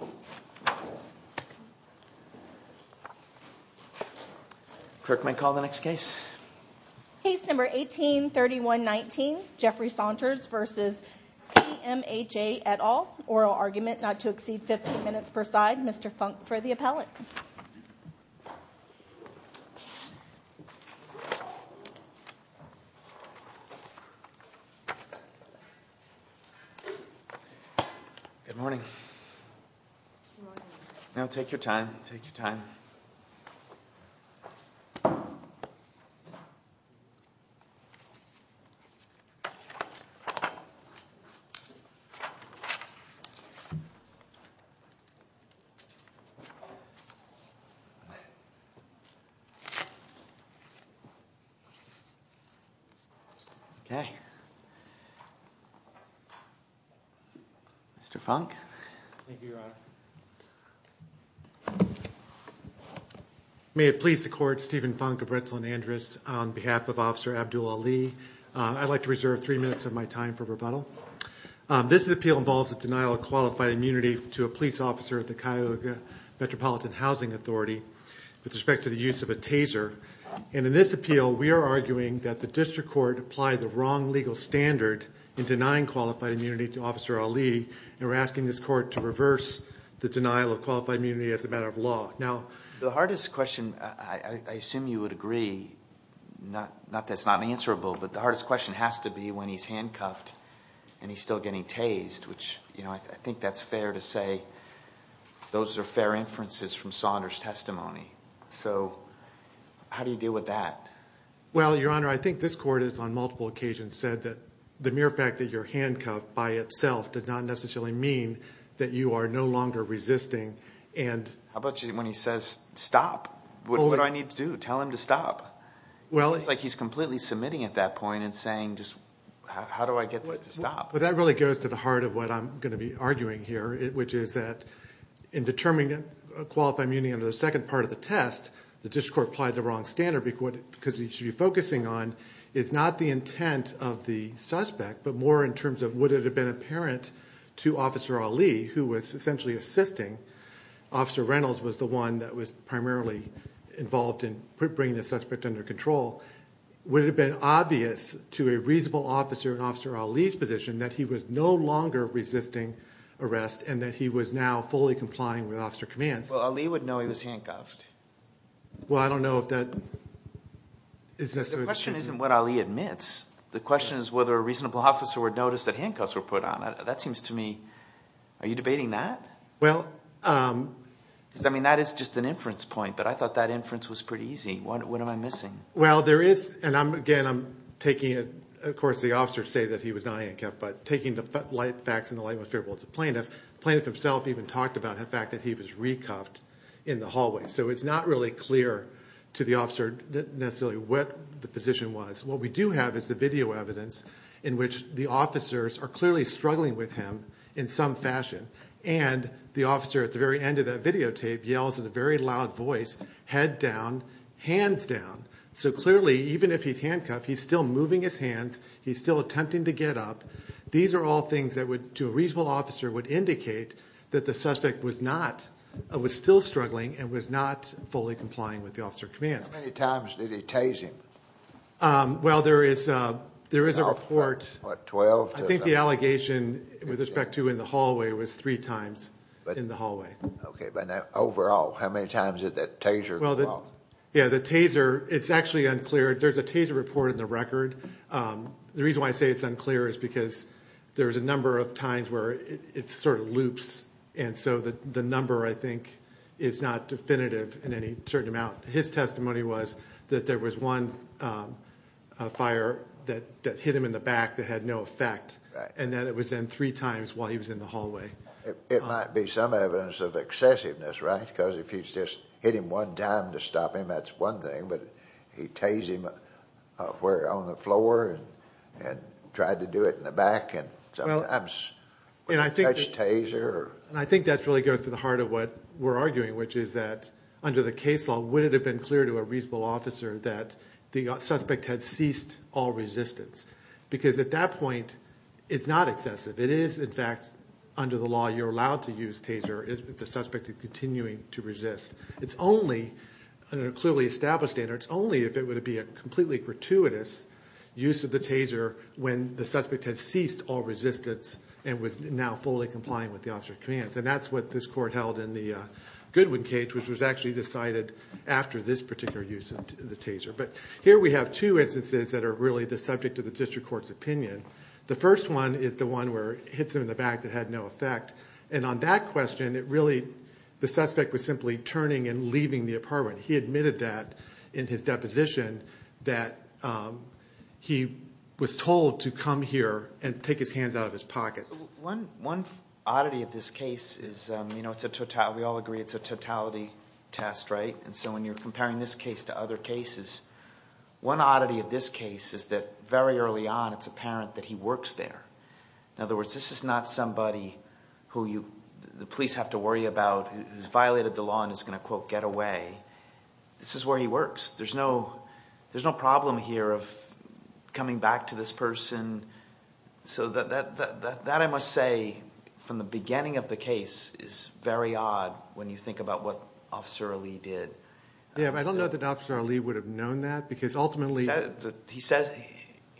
v. CMHA et al. Oral argument not to exceed 15 minutes per side. Mr. Funk for the appellate. Good morning. Now take your time. Take your time. Okay. Mr. Funk. Thank you, Your Honor. May it please the court, Stephen Funk of Ritzland-Andrus, on behalf of Officer Abdul-Ali, I'd like to reserve three minutes of my time for rebuttal. This appeal involves a denial of qualified immunity to a police officer at the Cuyahoga Metropolitan Housing Authority with respect to the use of a taser. And in this appeal, we are arguing that the district court applied the wrong legal standard in denying qualified immunity to Officer Ali, and we're asking this court to reverse the denial of qualified immunity as a matter of law. Now, the hardest question, I assume you would agree, not that it's not unanswerable, but the hardest question has to be when he's handcuffed and he's still getting tased, which, you know, I think that's fair to say those are fair inferences from Saunders' testimony. So how do you deal with that? Well, Your Honor, I think this court has on multiple occasions said that the mere fact that you're handcuffed by itself did not necessarily mean that you are no longer resisting and… How about when he says stop? What do I need to do? Tell him to stop? It seems like he's completely submitting at that point and saying just how do I get this to stop? Well, that really goes to the heart of what I'm going to be arguing here, which is that in determining qualified immunity under the second part of the test, the district court applied the wrong standard because what you should be focusing on is not the intent of the suspect, but more in terms of would it have been apparent to Officer Ali, who was essentially assisting, Officer Reynolds was the one that was primarily involved in bringing the suspect under control, would it have been obvious to a reasonable officer in Officer Ali's position that he was no longer resisting arrest and that he was now fully complying with officer commands? Well, Ali would know he was handcuffed. Well, I don't know if that… The question isn't what Ali admits. The question is whether a reasonable officer would notice that handcuffs were put on. That seems to me… are you debating that? Well… Because, I mean, that is just an inference point, but I thought that inference was pretty easy. What am I missing? Well, there is, and again, I'm taking it, of course, the officers say that he was not handcuffed, but taking the facts in the light of what's favorable to the plaintiff, the plaintiff himself even talked about the fact that he was re-cuffed in the hallway, so it's not really clear to the officer necessarily what the position was. What we do have is the video evidence in which the officers are clearly struggling with him in some fashion, and the officer at the very end of that videotape yells in a very loud voice, head down, hands down, so clearly, even if he's handcuffed, he's still moving his hands, he's still attempting to get up. These are all things that would, to a reasonable officer, would indicate that the suspect was not, was still struggling and was not fully complying with the officer commands. How many times did he tase him? Well, there is a report. What, 12? I think the allegation with respect to in the hallway was three times in the hallway. Okay, but overall, how many times did that taser involve? Well, yeah, the taser, it's actually unclear. There's a taser report in the record. The reason why I say it's unclear is because there's a number of times where it sort of loops, and so the number, I think, is not definitive in any certain amount. His testimony was that there was one fire that hit him in the back that had no effect, and that it was then three times while he was in the hallway. It might be some evidence of excessiveness, right? Because if you just hit him one time to stop him, that's one thing, but he tased him where, on the floor, and tried to do it in the back, and sometimes that's taser. And I think that really goes to the heart of what we're arguing, which is that under the case law, would it have been clear to a reasonable officer that the suspect had ceased all resistance? Because at that point, it's not excessive. It is, in fact, under the law, you're allowed to use taser if the suspect is continuing to resist. It's only, under a clearly established standard, it's only if it were to be a completely gratuitous use of the taser when the suspect had ceased all resistance and was now fully compliant with the officer's commands. And that's what this court held in the Goodwin case, which was actually decided after this particular use of the taser. But here we have two instances that are really the subject of the district court's opinion. The first one is the one where it hits him in the back that had no effect. And on that question, it really – the suspect was simply turning and leaving the apartment. He admitted that in his deposition that he was told to come here and take his hands out of his pockets. One oddity of this case is it's a – we all agree it's a totality test, right? And so when you're comparing this case to other cases, one oddity of this case is that very early on it's apparent that he works there. In other words, this is not somebody who you – the police have to worry about who's violated the law and is going to, quote, get away. This is where he works. There's no problem here of coming back to this person. So that, I must say, from the beginning of the case is very odd when you think about what Officer Ali did. Yeah, but I don't know that Officer Ali would have known that because ultimately –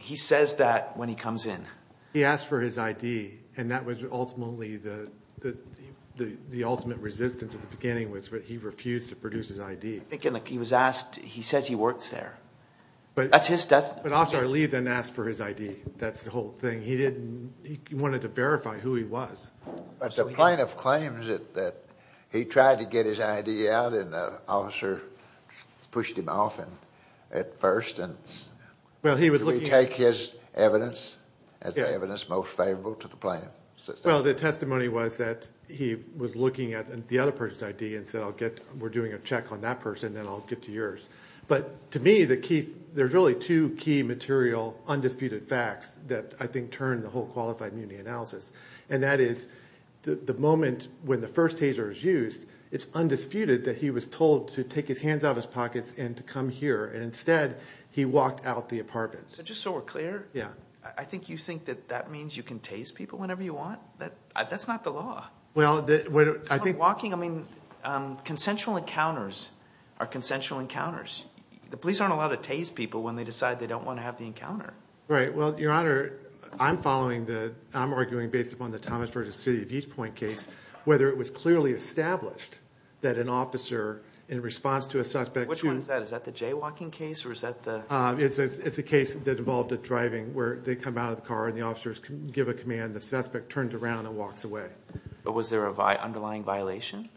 He says that when he comes in. He asked for his ID, and that was ultimately the ultimate resistance at the beginning was that he refused to produce his ID. He was asked – he says he works there. That's his – But Officer Ali then asked for his ID. That's the whole thing. He didn't – he wanted to verify who he was. But the plaintiff claims that he tried to get his ID out, and the officer pushed him off at first. Well, he was looking – Should we take his evidence as the evidence most favorable to the plaintiff? Well, the testimony was that he was looking at the other person's ID and said I'll get – we're doing a check on that person, then I'll get to yours. But to me, the key – there's really two key material undisputed facts that I think turn the whole qualified immunity analysis. And that is the moment when the first taser is used, it's undisputed that he was told to take his hands out of his pockets and to come here. And instead, he walked out the apartment. So just so we're clear, I think you think that that means you can tase people whenever you want? That's not the law. Well, I think – Consensual encounters are consensual encounters. The police aren't allowed to tase people when they decide they don't want to have the encounter. Right. Well, Your Honor, I'm following the – I'm arguing based upon the Thomas versus City of East Point case whether it was clearly established that an officer in response to a suspect – Which one is that? Is that the jaywalking case or is that the – It's a case that involved a driving where they come out of the car and the officers give a command. The suspect turns around and walks away. But was there an underlying violation?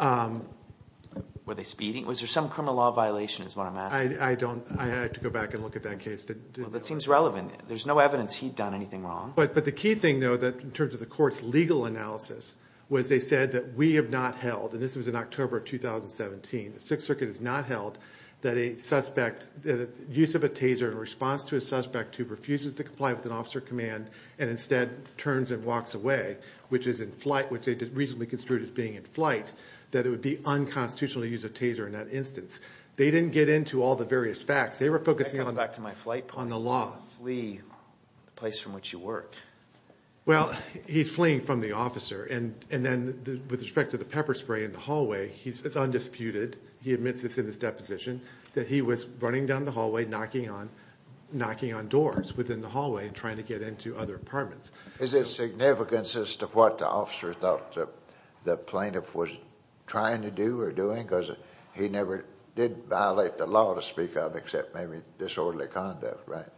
Were they speeding? Was there some criminal law violation is what I'm asking. I don't – I have to go back and look at that case. Well, that seems relevant. There's no evidence he'd done anything wrong. But the key thing, though, in terms of the court's legal analysis was they said that we have not held – and this was in October of 2017. The Sixth Circuit has not held that a suspect – the use of a taser in response to a suspect who refuses to comply with an officer command and instead turns and walks away, which is in flight – which they recently construed as being in flight, that it would be unconstitutional to use a taser in that instance. They didn't get into all the various facts. They were focusing on – That comes back to my flight plan. On the law. Flee the place from which you work. Well, he's fleeing from the officer. And then with respect to the pepper spray in the hallway, it's undisputed – that he was running down the hallway knocking on doors within the hallway and trying to get into other apartments. Is there significance as to what the officer thought the plaintiff was trying to do or doing? Because he never did violate the law to speak of except maybe disorderly conduct, right?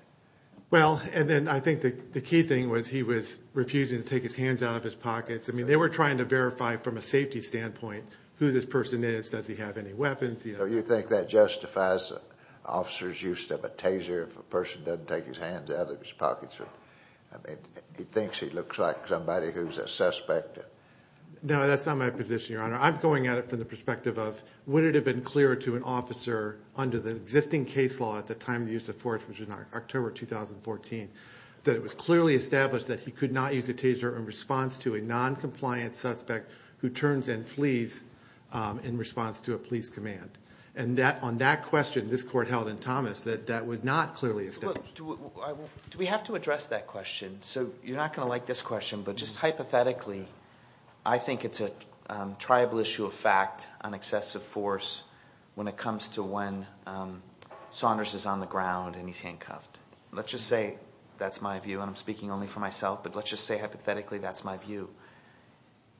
Well, and then I think the key thing was he was refusing to take his hands out of his pockets. I mean, they were trying to verify from a safety standpoint who this person is. Does he have any weapons? Do you think that justifies an officer's use of a taser if a person doesn't take his hands out of his pockets? I mean, he thinks he looks like somebody who's a suspect. No, that's not my position, Your Honor. I'm going at it from the perspective of would it have been clearer to an officer under the existing case law at the time of the use of force, which was in October 2014, that it was clearly established that he could not use a taser in response to a noncompliant suspect who turns and flees in response to a police command. And on that question, this court held in Thomas, that that was not clearly established. Do we have to address that question? So you're not going to like this question, but just hypothetically, I think it's a tribal issue of fact on excessive force when it comes to when Saunders is on the ground and he's handcuffed. Let's just say that's my view, and I'm speaking only for myself, but let's just say hypothetically that's my view.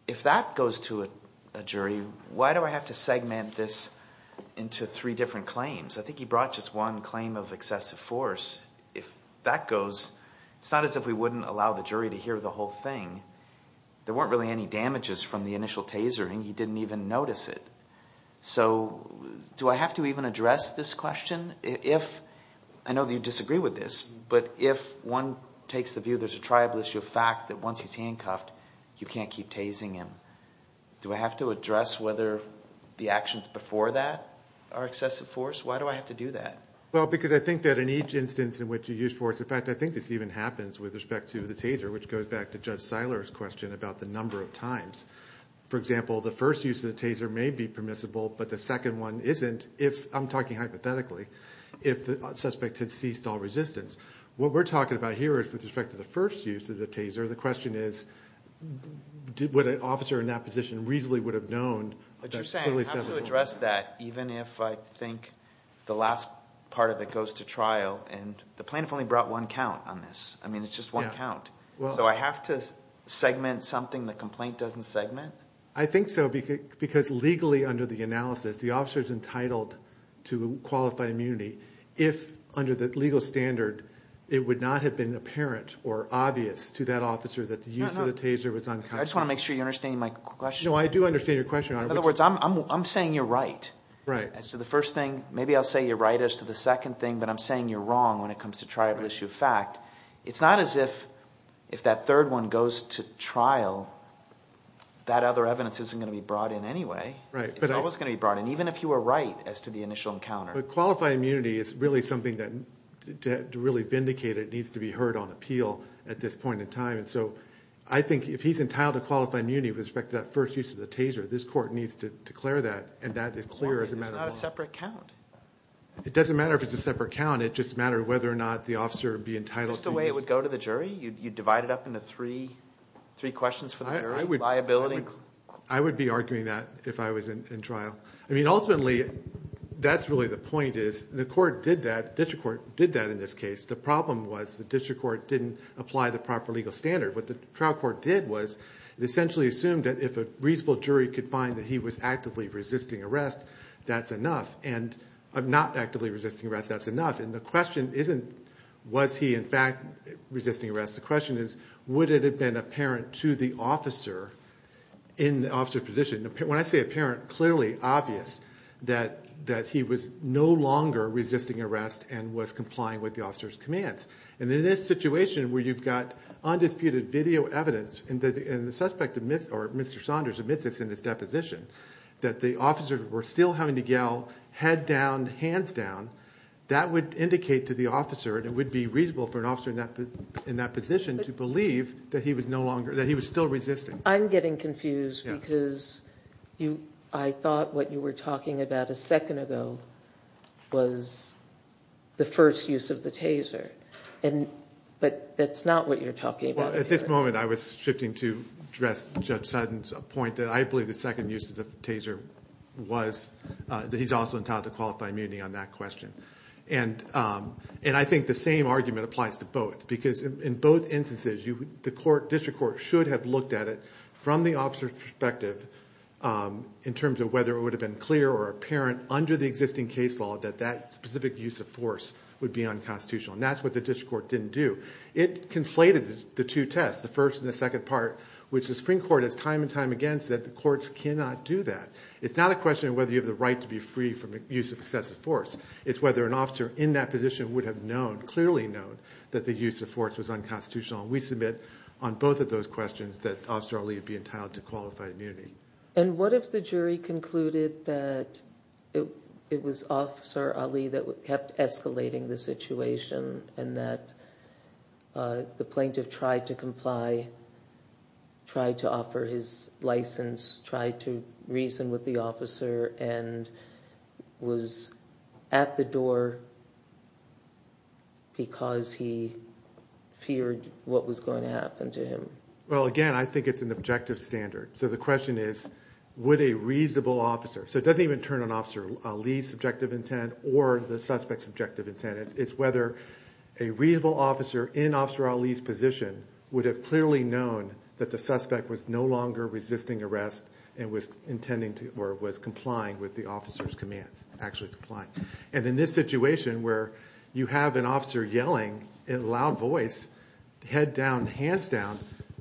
If that goes to a jury, why do I have to segment this into three different claims? I think he brought just one claim of excessive force. If that goes, it's not as if we wouldn't allow the jury to hear the whole thing. There weren't really any damages from the initial tasering. He didn't even notice it. So do I have to even address this question? I know that you disagree with this, but if one takes the view there's a tribal issue of fact that once he's handcuffed, you can't keep tasering him. Do I have to address whether the actions before that are excessive force? Why do I have to do that? Well, because I think that in each instance in which you use force, in fact I think this even happens with respect to the taser, which goes back to Judge Seiler's question about the number of times. For example, the first use of the taser may be permissible, but the second one isn't if I'm talking hypothetically, if the suspect had ceased all resistance. What we're talking about here is with respect to the first use of the taser, the question is would an officer in that position reasonably would have known. But you're saying I have to address that even if I think the last part of it goes to trial and the plaintiff only brought one count on this. I mean it's just one count. So I have to segment something the complaint doesn't segment? I think so because legally under the analysis the officer is entitled to qualify immunity if under the legal standard it would not have been apparent or obvious to that officer that the use of the taser was unconstitutional. I just want to make sure you understand my question. No, I do understand your question. In other words, I'm saying you're right as to the first thing. Maybe I'll say you're right as to the second thing, but I'm saying you're wrong when it comes to trial issue of fact. It's not as if that third one goes to trial, that other evidence isn't going to be brought in anyway. It's always going to be brought in, even if you were right as to the initial encounter. But qualify immunity is really something that to really vindicate it needs to be heard on appeal at this point in time, and so I think if he's entitled to qualify immunity with respect to that first use of the taser, this court needs to declare that, and that is clear as a matter of law. It's not a separate count. It doesn't matter if it's a separate count. It just matters whether or not the officer would be entitled to use. Is this the way it would go to the jury? You'd divide it up into three questions for the jury? Liability? I would be arguing that if I was in trial. I mean, ultimately, that's really the point is the court did that. The district court did that in this case. The problem was the district court didn't apply the proper legal standard. What the trial court did was it essentially assumed that if a reasonable jury could find that he was actively resisting arrest, that's enough, and not actively resisting arrest, that's enough. And the question isn't was he in fact resisting arrest. The question is would it have been apparent to the officer in the officer's position. When I say apparent, clearly obvious that he was no longer resisting arrest and was complying with the officer's commands. And in this situation where you've got undisputed video evidence, and the suspect or Mr. Saunders admits this in his deposition, that the officers were still having to yell, head down, hands down, that would indicate to the officer and it would be reasonable for an officer in that position to believe that he was still resisting. I'm getting confused because I thought what you were talking about a second ago was the first use of the taser, but that's not what you're talking about. Well, at this moment I was shifting to address Judge Sutton's point that I believe the second use of the taser was that he's also entitled to qualify immunity on that question. And I think the same argument applies to both because in both instances, the district court should have looked at it from the officer's perspective in terms of whether it would have been clear or apparent under the existing case law that that specific use of force would be unconstitutional. And that's what the district court didn't do. It conflated the two tests, the first and the second part, which the Supreme Court has time and time again said the courts cannot do that. It's not a question of whether you have the right to be free from the use of excessive force. It's whether an officer in that position would have known, clearly known, that the use of force was unconstitutional. And we submit on both of those questions that Officer Ali would be entitled to qualify immunity. And what if the jury concluded that it was Officer Ali that kept escalating the situation and that the plaintiff tried to comply, tried to offer his license, tried to reason with the officer and was at the door because he feared what was going to happen to him? Well, again, I think it's an objective standard. So the question is would a reasonable officer – so it doesn't even turn on Officer Ali's subjective intent or the suspect's objective intent. It's whether a reasonable officer in Officer Ali's position would have clearly known that the suspect was no longer resisting arrest and was intending to or was complying with the officer's commands, actually complying. And in this situation where you have an officer yelling in a loud voice, head down, hands down,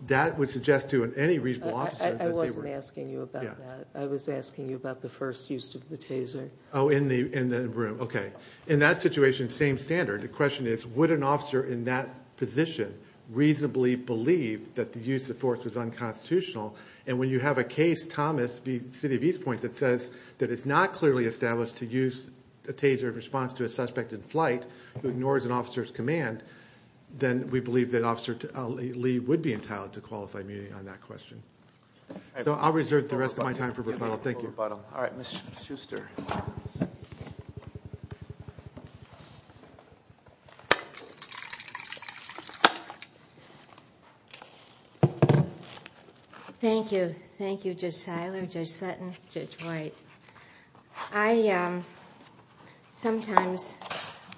that would suggest to any reasonable officer that they were – I wasn't asking you about that. I was asking you about the first use of the taser. Oh, in the room. Okay. In that situation, same standard. The question is would an officer in that position reasonably believe that the use of force was unconstitutional? And when you have a case, Thomas v. City of East Point, that says that it's not clearly established to use a taser in response to a suspect in flight who ignores an officer's command, then we believe that Officer Ali would be entitled to qualify immunity on that question. So I'll reserve the rest of my time for rebuttal. Thank you. Thank you. All right, Ms. Schuster. Thank you. Thank you, Judge Seiler, Judge Sutton, Judge White. I sometimes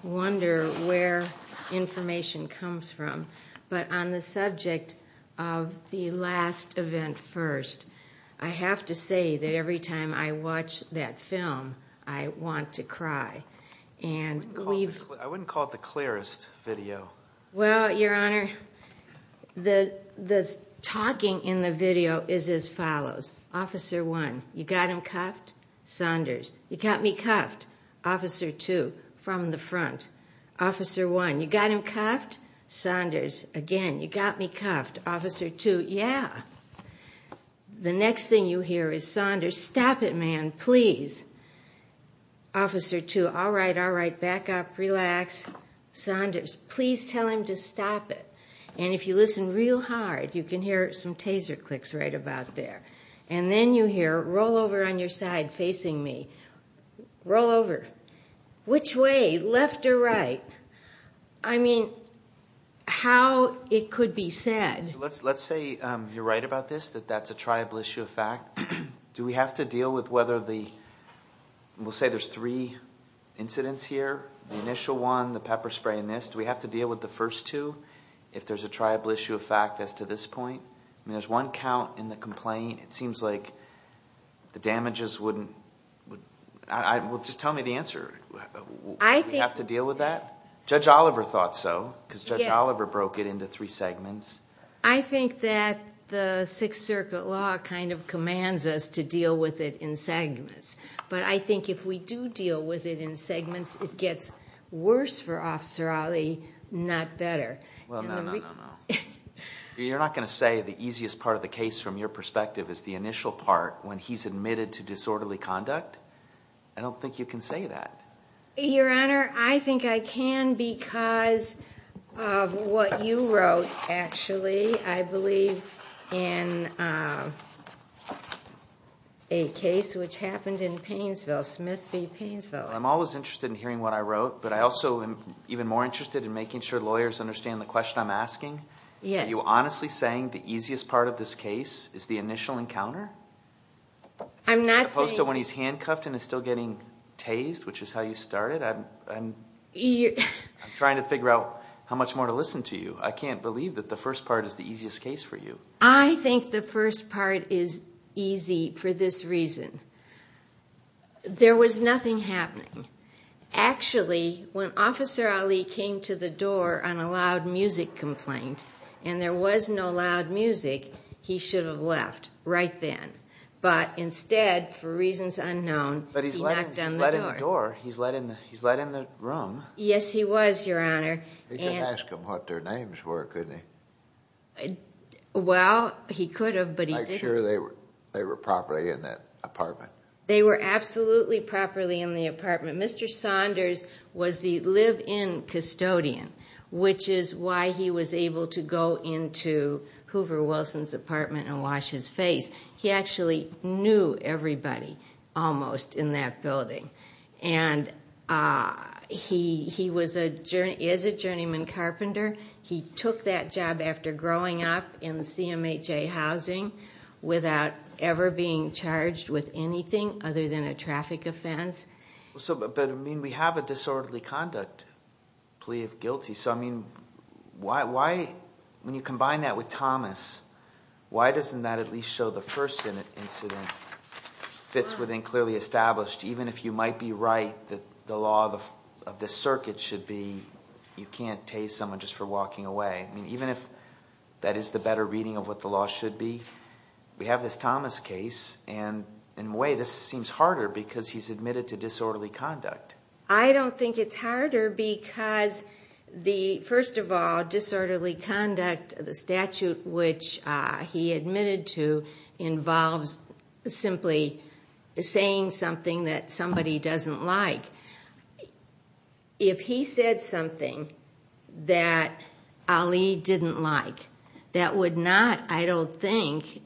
wonder where information comes from. But on the subject of the last event first, I have to say that every time I watch that film, I want to cry. I wouldn't call it the clearest video. Well, Your Honor, the talking in the video is as follows. Officer 1, you got him cuffed? Saunders. You got me cuffed? Officer 2, from the front. Officer 1, you got him cuffed? Saunders. Again, you got me cuffed? Officer 2, yeah. The next thing you hear is, Saunders, stop it, man, please. Officer 2, all right, all right, back up, relax. Saunders, please tell him to stop it. And if you listen real hard, you can hear some taser clicks right about there. And then you hear, roll over on your side facing me. Roll over. Which way, left or right? I mean, how it could be said. Let's say you're right about this, that that's a triable issue of fact. Do we have to deal with whether the, we'll say there's three incidents here, the initial one, the pepper spray, and this. Do we have to deal with the first two if there's a triable issue of fact as to this point? I mean, there's one count in the complaint. It seems like the damages wouldn't, well, just tell me the answer. Would we have to deal with that? Judge Oliver thought so because Judge Oliver broke it into three segments. I think that the Sixth Circuit law kind of commands us to deal with it in segments. But I think if we do deal with it in segments, it gets worse for Officer Ali, not better. Well, no, no, no, no. You're not going to say the easiest part of the case from your perspective is the initial part when he's admitted to disorderly conduct? I don't think you can say that. Your Honor, I think I can because of what you wrote, actually, I believe, in a case which happened in Painesville, Smith v. Painesville. I'm always interested in hearing what I wrote, but I also am even more interested in making sure lawyers understand the question I'm asking. Yes. Are you honestly saying the easiest part of this case is the initial encounter? I'm not saying that. I'm saying when he's handcuffed and is still getting tased, which is how you started, I'm trying to figure out how much more to listen to you. I can't believe that the first part is the easiest case for you. I think the first part is easy for this reason. There was nothing happening. Actually, when Officer Ali came to the door on a loud music complaint and there was no loud music, he should have left right then. But instead, for reasons unknown, he knocked on the door. But he's letting the door, he's letting the room. Yes, he was, Your Honor. He could have asked him what their names were, couldn't he? Well, he could have, but he didn't. Make sure they were properly in that apartment. They were absolutely properly in the apartment. Mr. Saunders was the live-in custodian, which is why he was able to go into Hoover Wilson's apartment and wash his face. He actually knew everybody, almost, in that building. And he is a journeyman carpenter. He took that job after growing up in CMHA housing without ever being charged with anything other than a traffic offense. But, I mean, we have a disorderly conduct plea of guilty. Why doesn't that at least show the first incident fits within clearly established, even if you might be right that the law of the circuit should be you can't tase someone just for walking away. I mean, even if that is the better reading of what the law should be, we have this Thomas case and, in a way, this seems harder because he's admitted to disorderly conduct. I don't think it's harder because, first of all, disorderly conduct, the statute which he admitted to, involves simply saying something that somebody doesn't like. If he said something that Ali didn't like, that would not, I don't think,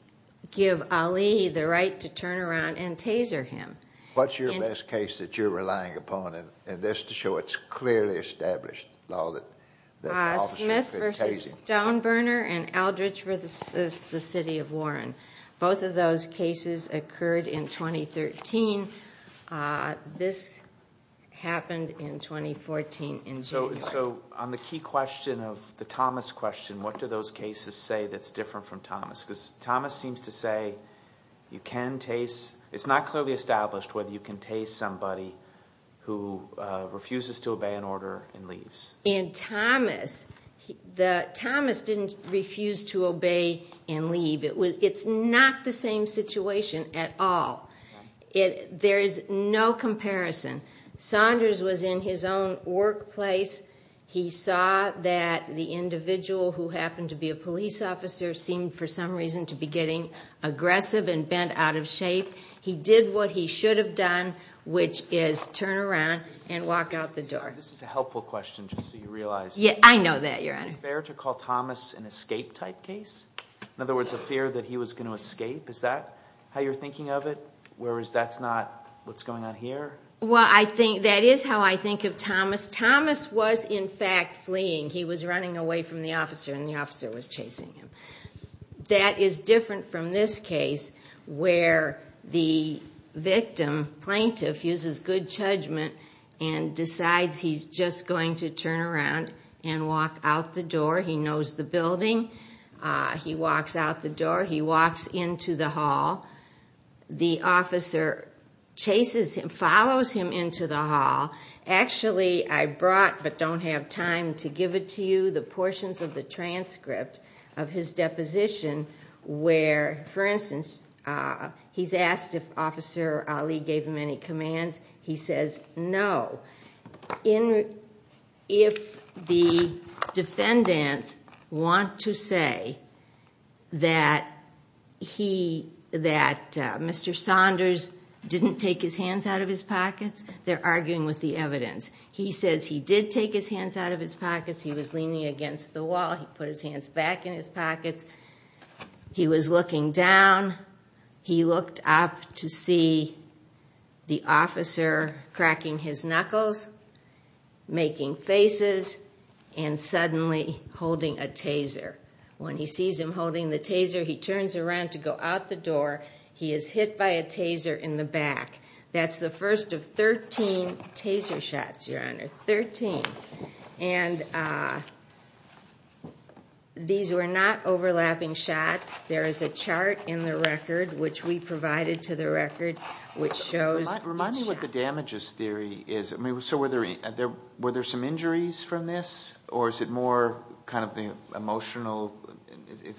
give Ali the right to turn around and taser him. What's your best case that you're relying upon? And just to show it's clearly established, Smith v. Stoneburner and Aldrich v. the City of Warren. Both of those cases occurred in 2013. This happened in 2014 in January. So, on the key question of the Thomas question, what do those cases say that's different from Thomas? Because Thomas seems to say you can tase, it's not clearly established whether you can tase somebody who refuses to obey an order and leaves. In Thomas, Thomas didn't refuse to obey and leave. It's not the same situation at all. There is no comparison. Saunders was in his own workplace. He saw that the individual who happened to be a police officer seemed, for some reason, to be getting aggressive and bent out of shape. He did what he should have done, which is turn around and walk out the door. This is a helpful question, just so you realize. Yeah, I know that, Your Honor. Is it fair to call Thomas an escape-type case? In other words, a fear that he was going to escape? Is that how you're thinking of it? Whereas that's not what's going on here? Well, that is how I think of Thomas. Thomas was, in fact, fleeing. He was running away from the officer, and the officer was chasing him. That is different from this case where the victim, plaintiff, uses good judgment and decides he's just going to turn around and walk out the door. He knows the building. He walks out the door. He walks into the hall. The officer chases him, follows him into the hall. Actually, I brought, but don't have time to give it to you, the portions of the transcript of his deposition where, for instance, he's asked if Officer Ali gave him any commands. He says no. If the defendants want to say that Mr. Saunders didn't take his hands out of his pockets, they're arguing with the evidence. He was leaning against the wall. He put his hands back in his pockets. He was looking down. He looked up to see the officer cracking his knuckles, making faces, and suddenly holding a taser. When he sees him holding the taser, he turns around to go out the door. He is hit by a taser in the back. That's the first of 13 taser shots, Your Honor, 13. And these were not overlapping shots. There is a chart in the record, which we provided to the record, which shows each shot. Remind me what the damages theory is. So were there some injuries from this, or is it more kind of the emotional,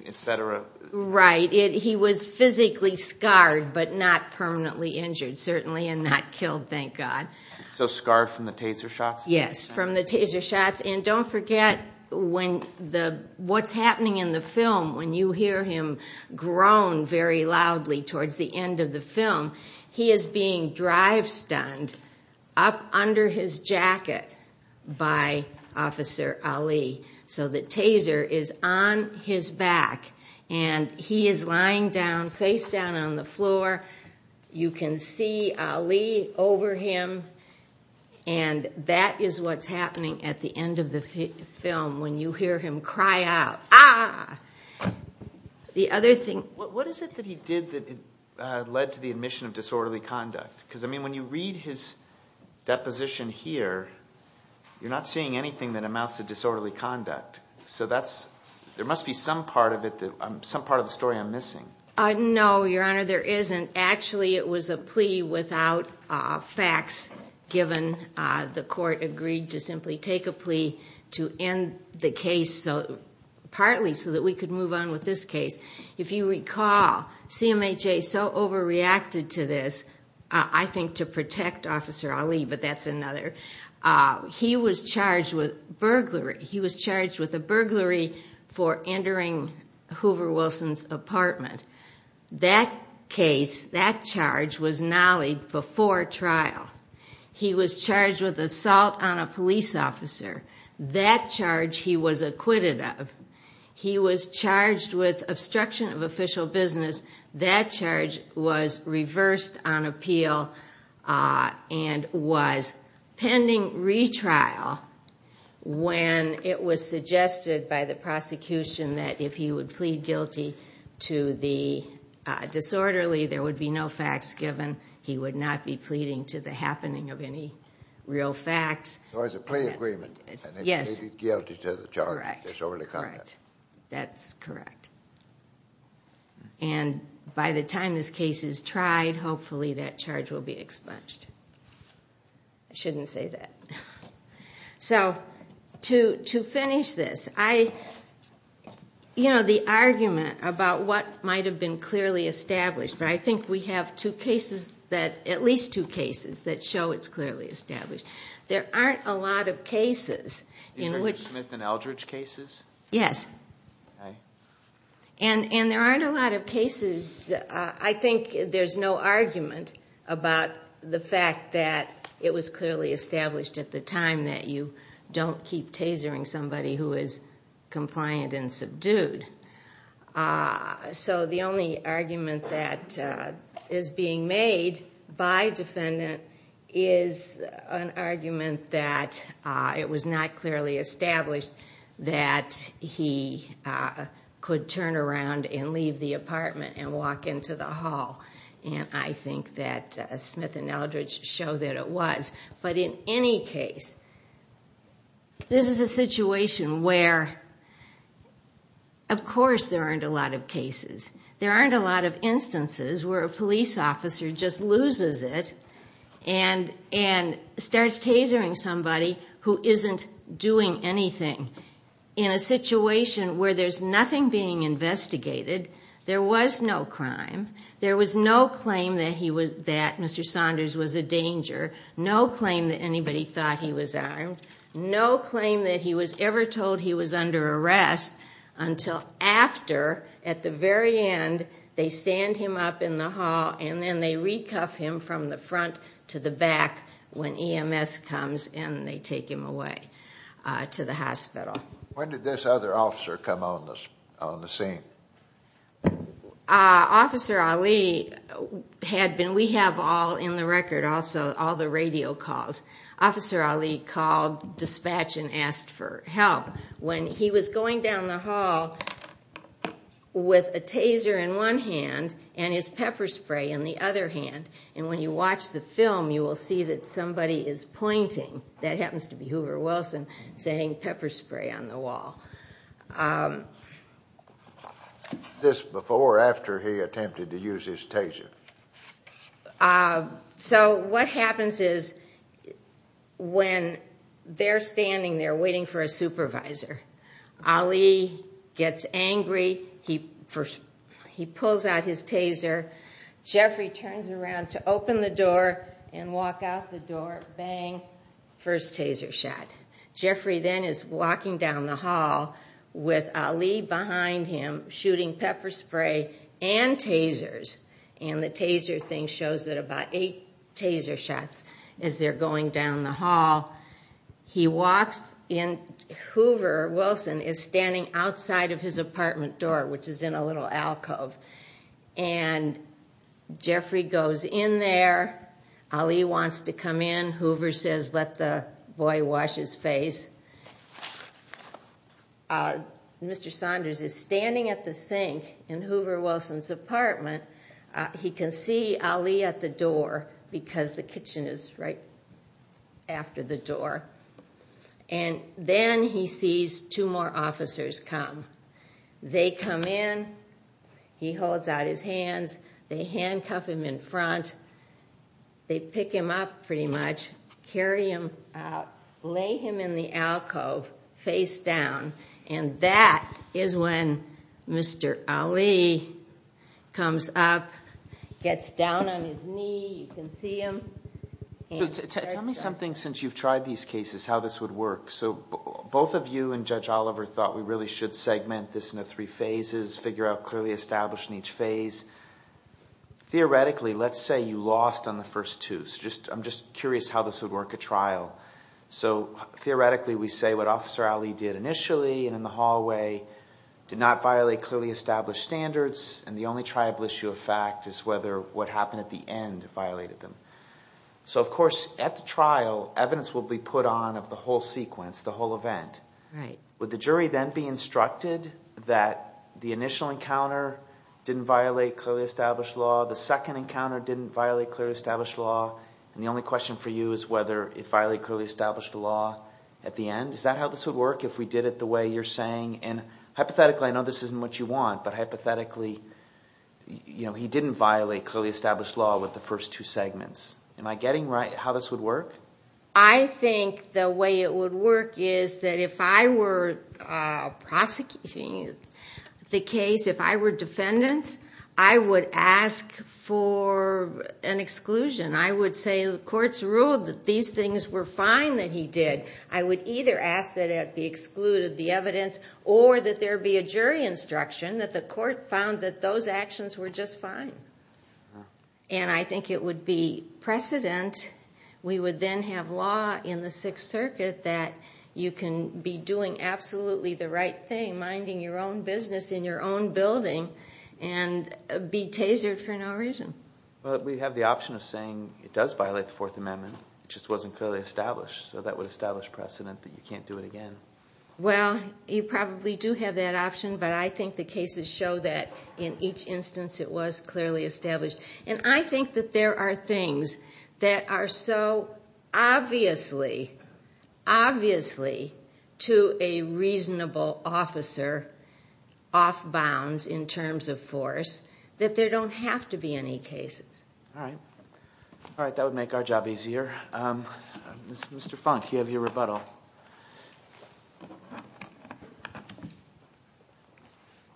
et cetera? Right. He was physically scarred but not permanently injured, certainly, and not killed, thank God. So scarred from the taser shots? Yes, from the taser shots. And don't forget, what's happening in the film, when you hear him groan very loudly towards the end of the film, he is being drive-stunned up under his jacket by Officer Ali. So the taser is on his back, and he is lying down, face down on the floor. You can see Ali over him, and that is what's happening at the end of the film, when you hear him cry out, ah! What is it that he did that led to the admission of disorderly conduct? Because, I mean, when you read his deposition here, you're not seeing anything that amounts to disorderly conduct. No, Your Honor, there isn't. Actually, it was a plea without facts, given the court agreed to simply take a plea to end the case, partly so that we could move on with this case. If you recall, CMHA so overreacted to this, I think to protect Officer Ali, but that's another. He was charged with burglary. He was charged with a burglary for entering Hoover Wilson's apartment. That case, that charge, was knollied before trial. He was charged with assault on a police officer. That charge he was acquitted of. He was charged with obstruction of official business. That charge was reversed on appeal and was pending retrial when it was suggested by the prosecution that if he would plead guilty to the disorderly, there would be no facts given. He would not be pleading to the happening of any real facts. So it was a plea agreement. Yes. And he pleaded guilty to the charge of disorderly conduct. Correct. That's correct. And by the time this case is tried, hopefully that charge will be expunged. I shouldn't say that. So to finish this, I, you know, the argument about what might have been clearly established, but I think we have two cases that, at least two cases, that show it's clearly established. There aren't a lot of cases in which... Is there Smith and Eldridge cases? Yes. Okay. And there aren't a lot of cases. I think there's no argument about the fact that it was clearly established at the time that you don't keep tasering somebody who is compliant and subdued. So the only argument that is being made by defendant is an argument that it was not clearly established that he could turn around and leave the apartment and walk into the hall. And I think that Smith and Eldridge show that it was. But in any case, this is a situation where, of course, there aren't a lot of cases. There aren't a lot of instances where a police officer just loses it and starts tasering somebody who isn't doing anything. In a situation where there's nothing being investigated, there was no crime, there was no claim that Mr. Saunders was a danger, no claim that anybody thought he was armed, no claim that he was ever told he was under arrest until after, at the very end, they stand him up in the hall and then they recuff him from the front to the back when EMS comes and they take him away to the hospital. When did this other officer come on the scene? Officer Ali had been. We have all in the record also all the radio calls. Officer Ali called dispatch and asked for help. When he was going down the hall with a taser in one hand and his pepper spray in the other hand, and when you watch the film you will see that somebody is pointing, that happens to be Hoover Wilson, saying pepper spray on the wall. This before or after he attempted to use his taser? So what happens is when they're standing there waiting for a supervisor, Ali gets angry, he pulls out his taser, Jeffrey turns around to open the door and walk out the door, bang, first taser shot. Jeffrey then is walking down the hall with Ali behind him shooting pepper spray and tasers and the taser thing shows that about eight taser shots as they're going down the hall. Hoover Wilson is standing outside of his apartment door, which is in a little alcove, and Jeffrey goes in there, Ali wants to come in, Hoover says let the boy wash his face. Mr. Saunders is standing at the sink in Hoover Wilson's apartment, he can see Ali at the door because the kitchen is right after the door, and then he sees two more officers come. They come in, he holds out his hands, they handcuff him in front, they pick him up pretty much, carry him out, lay him in the alcove face down, and that is when Mr. Ali comes up, gets down on his knee, you can see him. Tell me something since you've tried these cases, how this would work. So both of you and Judge Oliver thought we really should segment this into three phases, figure out clearly established in each phase. Theoretically, let's say you lost on the first two. I'm just curious how this would work at trial. So theoretically we say what Officer Ali did initially and in the hallway did not violate clearly established standards, and the only triable issue of fact is whether what happened at the end violated them. So of course at the trial, evidence will be put on of the whole sequence, the whole event. Would the jury then be instructed that the initial encounter didn't violate clearly established law, the second encounter didn't violate clearly established law, and the only question for you is whether it violated clearly established law at the end? Is that how this would work if we did it the way you're saying? And hypothetically, I know this isn't what you want, but hypothetically he didn't violate clearly established law with the first two segments. Am I getting right how this would work? I think the way it would work is that if I were prosecuting the case, if I were defendant, I would ask for an exclusion. I would say the court's ruled that these things were fine that he did. I would either ask that it be excluded, the evidence, or that there be a jury instruction that the court found that those actions were just fine. And I think it would be precedent. We would then have law in the Sixth Circuit that you can be doing absolutely the right thing, minding your own business in your own building, and be tasered for no reason. But we have the option of saying it does violate the Fourth Amendment, it just wasn't clearly established. So that would establish precedent that you can't do it again. Well, you probably do have that option, but I think the cases show that in each instance it was clearly established. And I think that there are things that are so obviously, obviously, to a reasonable officer off bounds in terms of force that there don't have to be any cases. All right. All right, that would make our job easier. Mr. Funk, you have your rebuttal.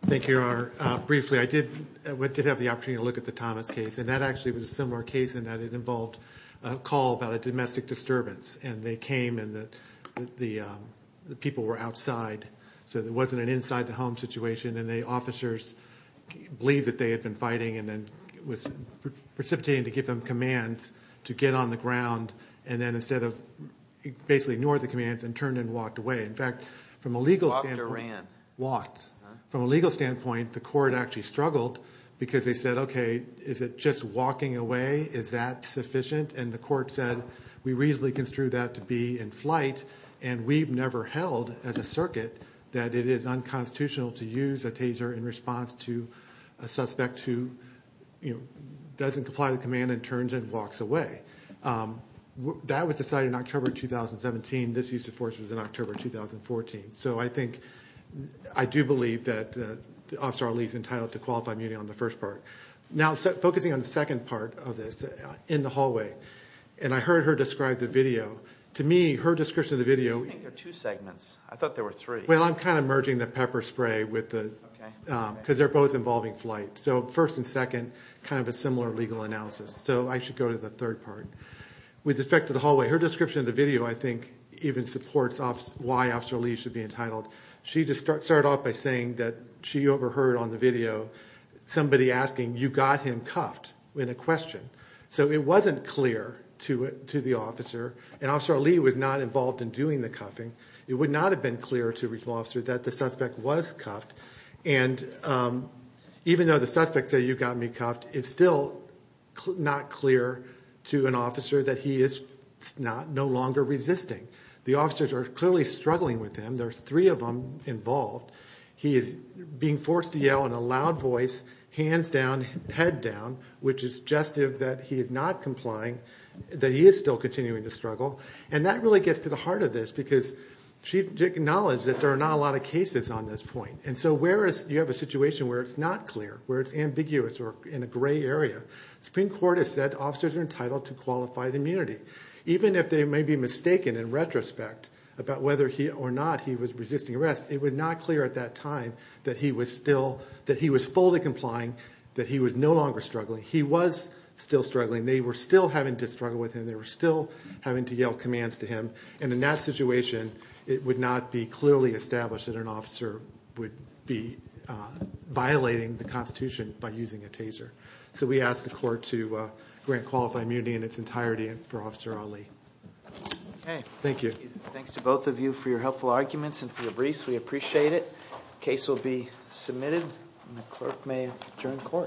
Thank you, Your Honor. Briefly, I did have the opportunity to look at the Thomas case, and that actually was a similar case in that it involved a call about a domestic disturbance. And they came and the people were outside, so there wasn't an inside the home situation, and the officers believed that they had been fighting and then it was precipitating to give them commands to get on the ground, and then instead of basically ignored the commands and turned and walked away. In fact, from a legal standpoint. Walked or ran? Walked. From a legal standpoint, the court actually struggled because they said, okay, is it just walking away? Is that sufficient? And the court said, we reasonably construe that to be in flight, and we've never held as a circuit that it is unconstitutional to use a taser in response to a suspect who doesn't comply with the command and turns and walks away. That was decided in October 2017. This use of force was in October 2014. So I think I do believe that Officer Ali is entitled to qualify on the first part. Now, focusing on the second part of this, in the hallway, and I heard her describe the video. To me, her description of the video. I think there are two segments. I thought there were three. Well, I'm kind of merging the pepper spray because they're both involving flight. So first and second, kind of a similar legal analysis. So I should go to the third part. With respect to the hallway, her description of the video, I think, even supports why Officer Ali should be entitled. She just started off by saying that she overheard on the video somebody asking, you got him cuffed, in a question. So it wasn't clear to the officer, and Officer Ali was not involved in doing the cuffing. It would not have been clear to a regional officer that the suspect was cuffed. And even though the suspect said, you got me cuffed, it's still not clear to an officer that he is no longer resisting. The officers are clearly struggling with him. There are three of them involved. He is being forced to yell in a loud voice, hands down, head down, which is suggestive that he is not complying, that he is still continuing to struggle. And that really gets to the heart of this, because she acknowledged that there are not a lot of cases on this point. And so you have a situation where it's not clear, where it's ambiguous or in a gray area. The Supreme Court has said officers are entitled to qualified immunity. Even if they may be mistaken in retrospect about whether or not he was resisting arrest, it was not clear at that time that he was fully complying, that he was no longer struggling. He was still struggling. They were still having to struggle with him. They were still having to yell commands to him. And in that situation, it would not be clearly established that an officer would be violating the Constitution by using a taser. So we ask the court to grant qualified immunity in its entirety for Officer Ali. Okay. Thank you. Thanks to both of you for your helpful arguments and for your briefs. We appreciate it. The case will be submitted, and the clerk may adjourn court.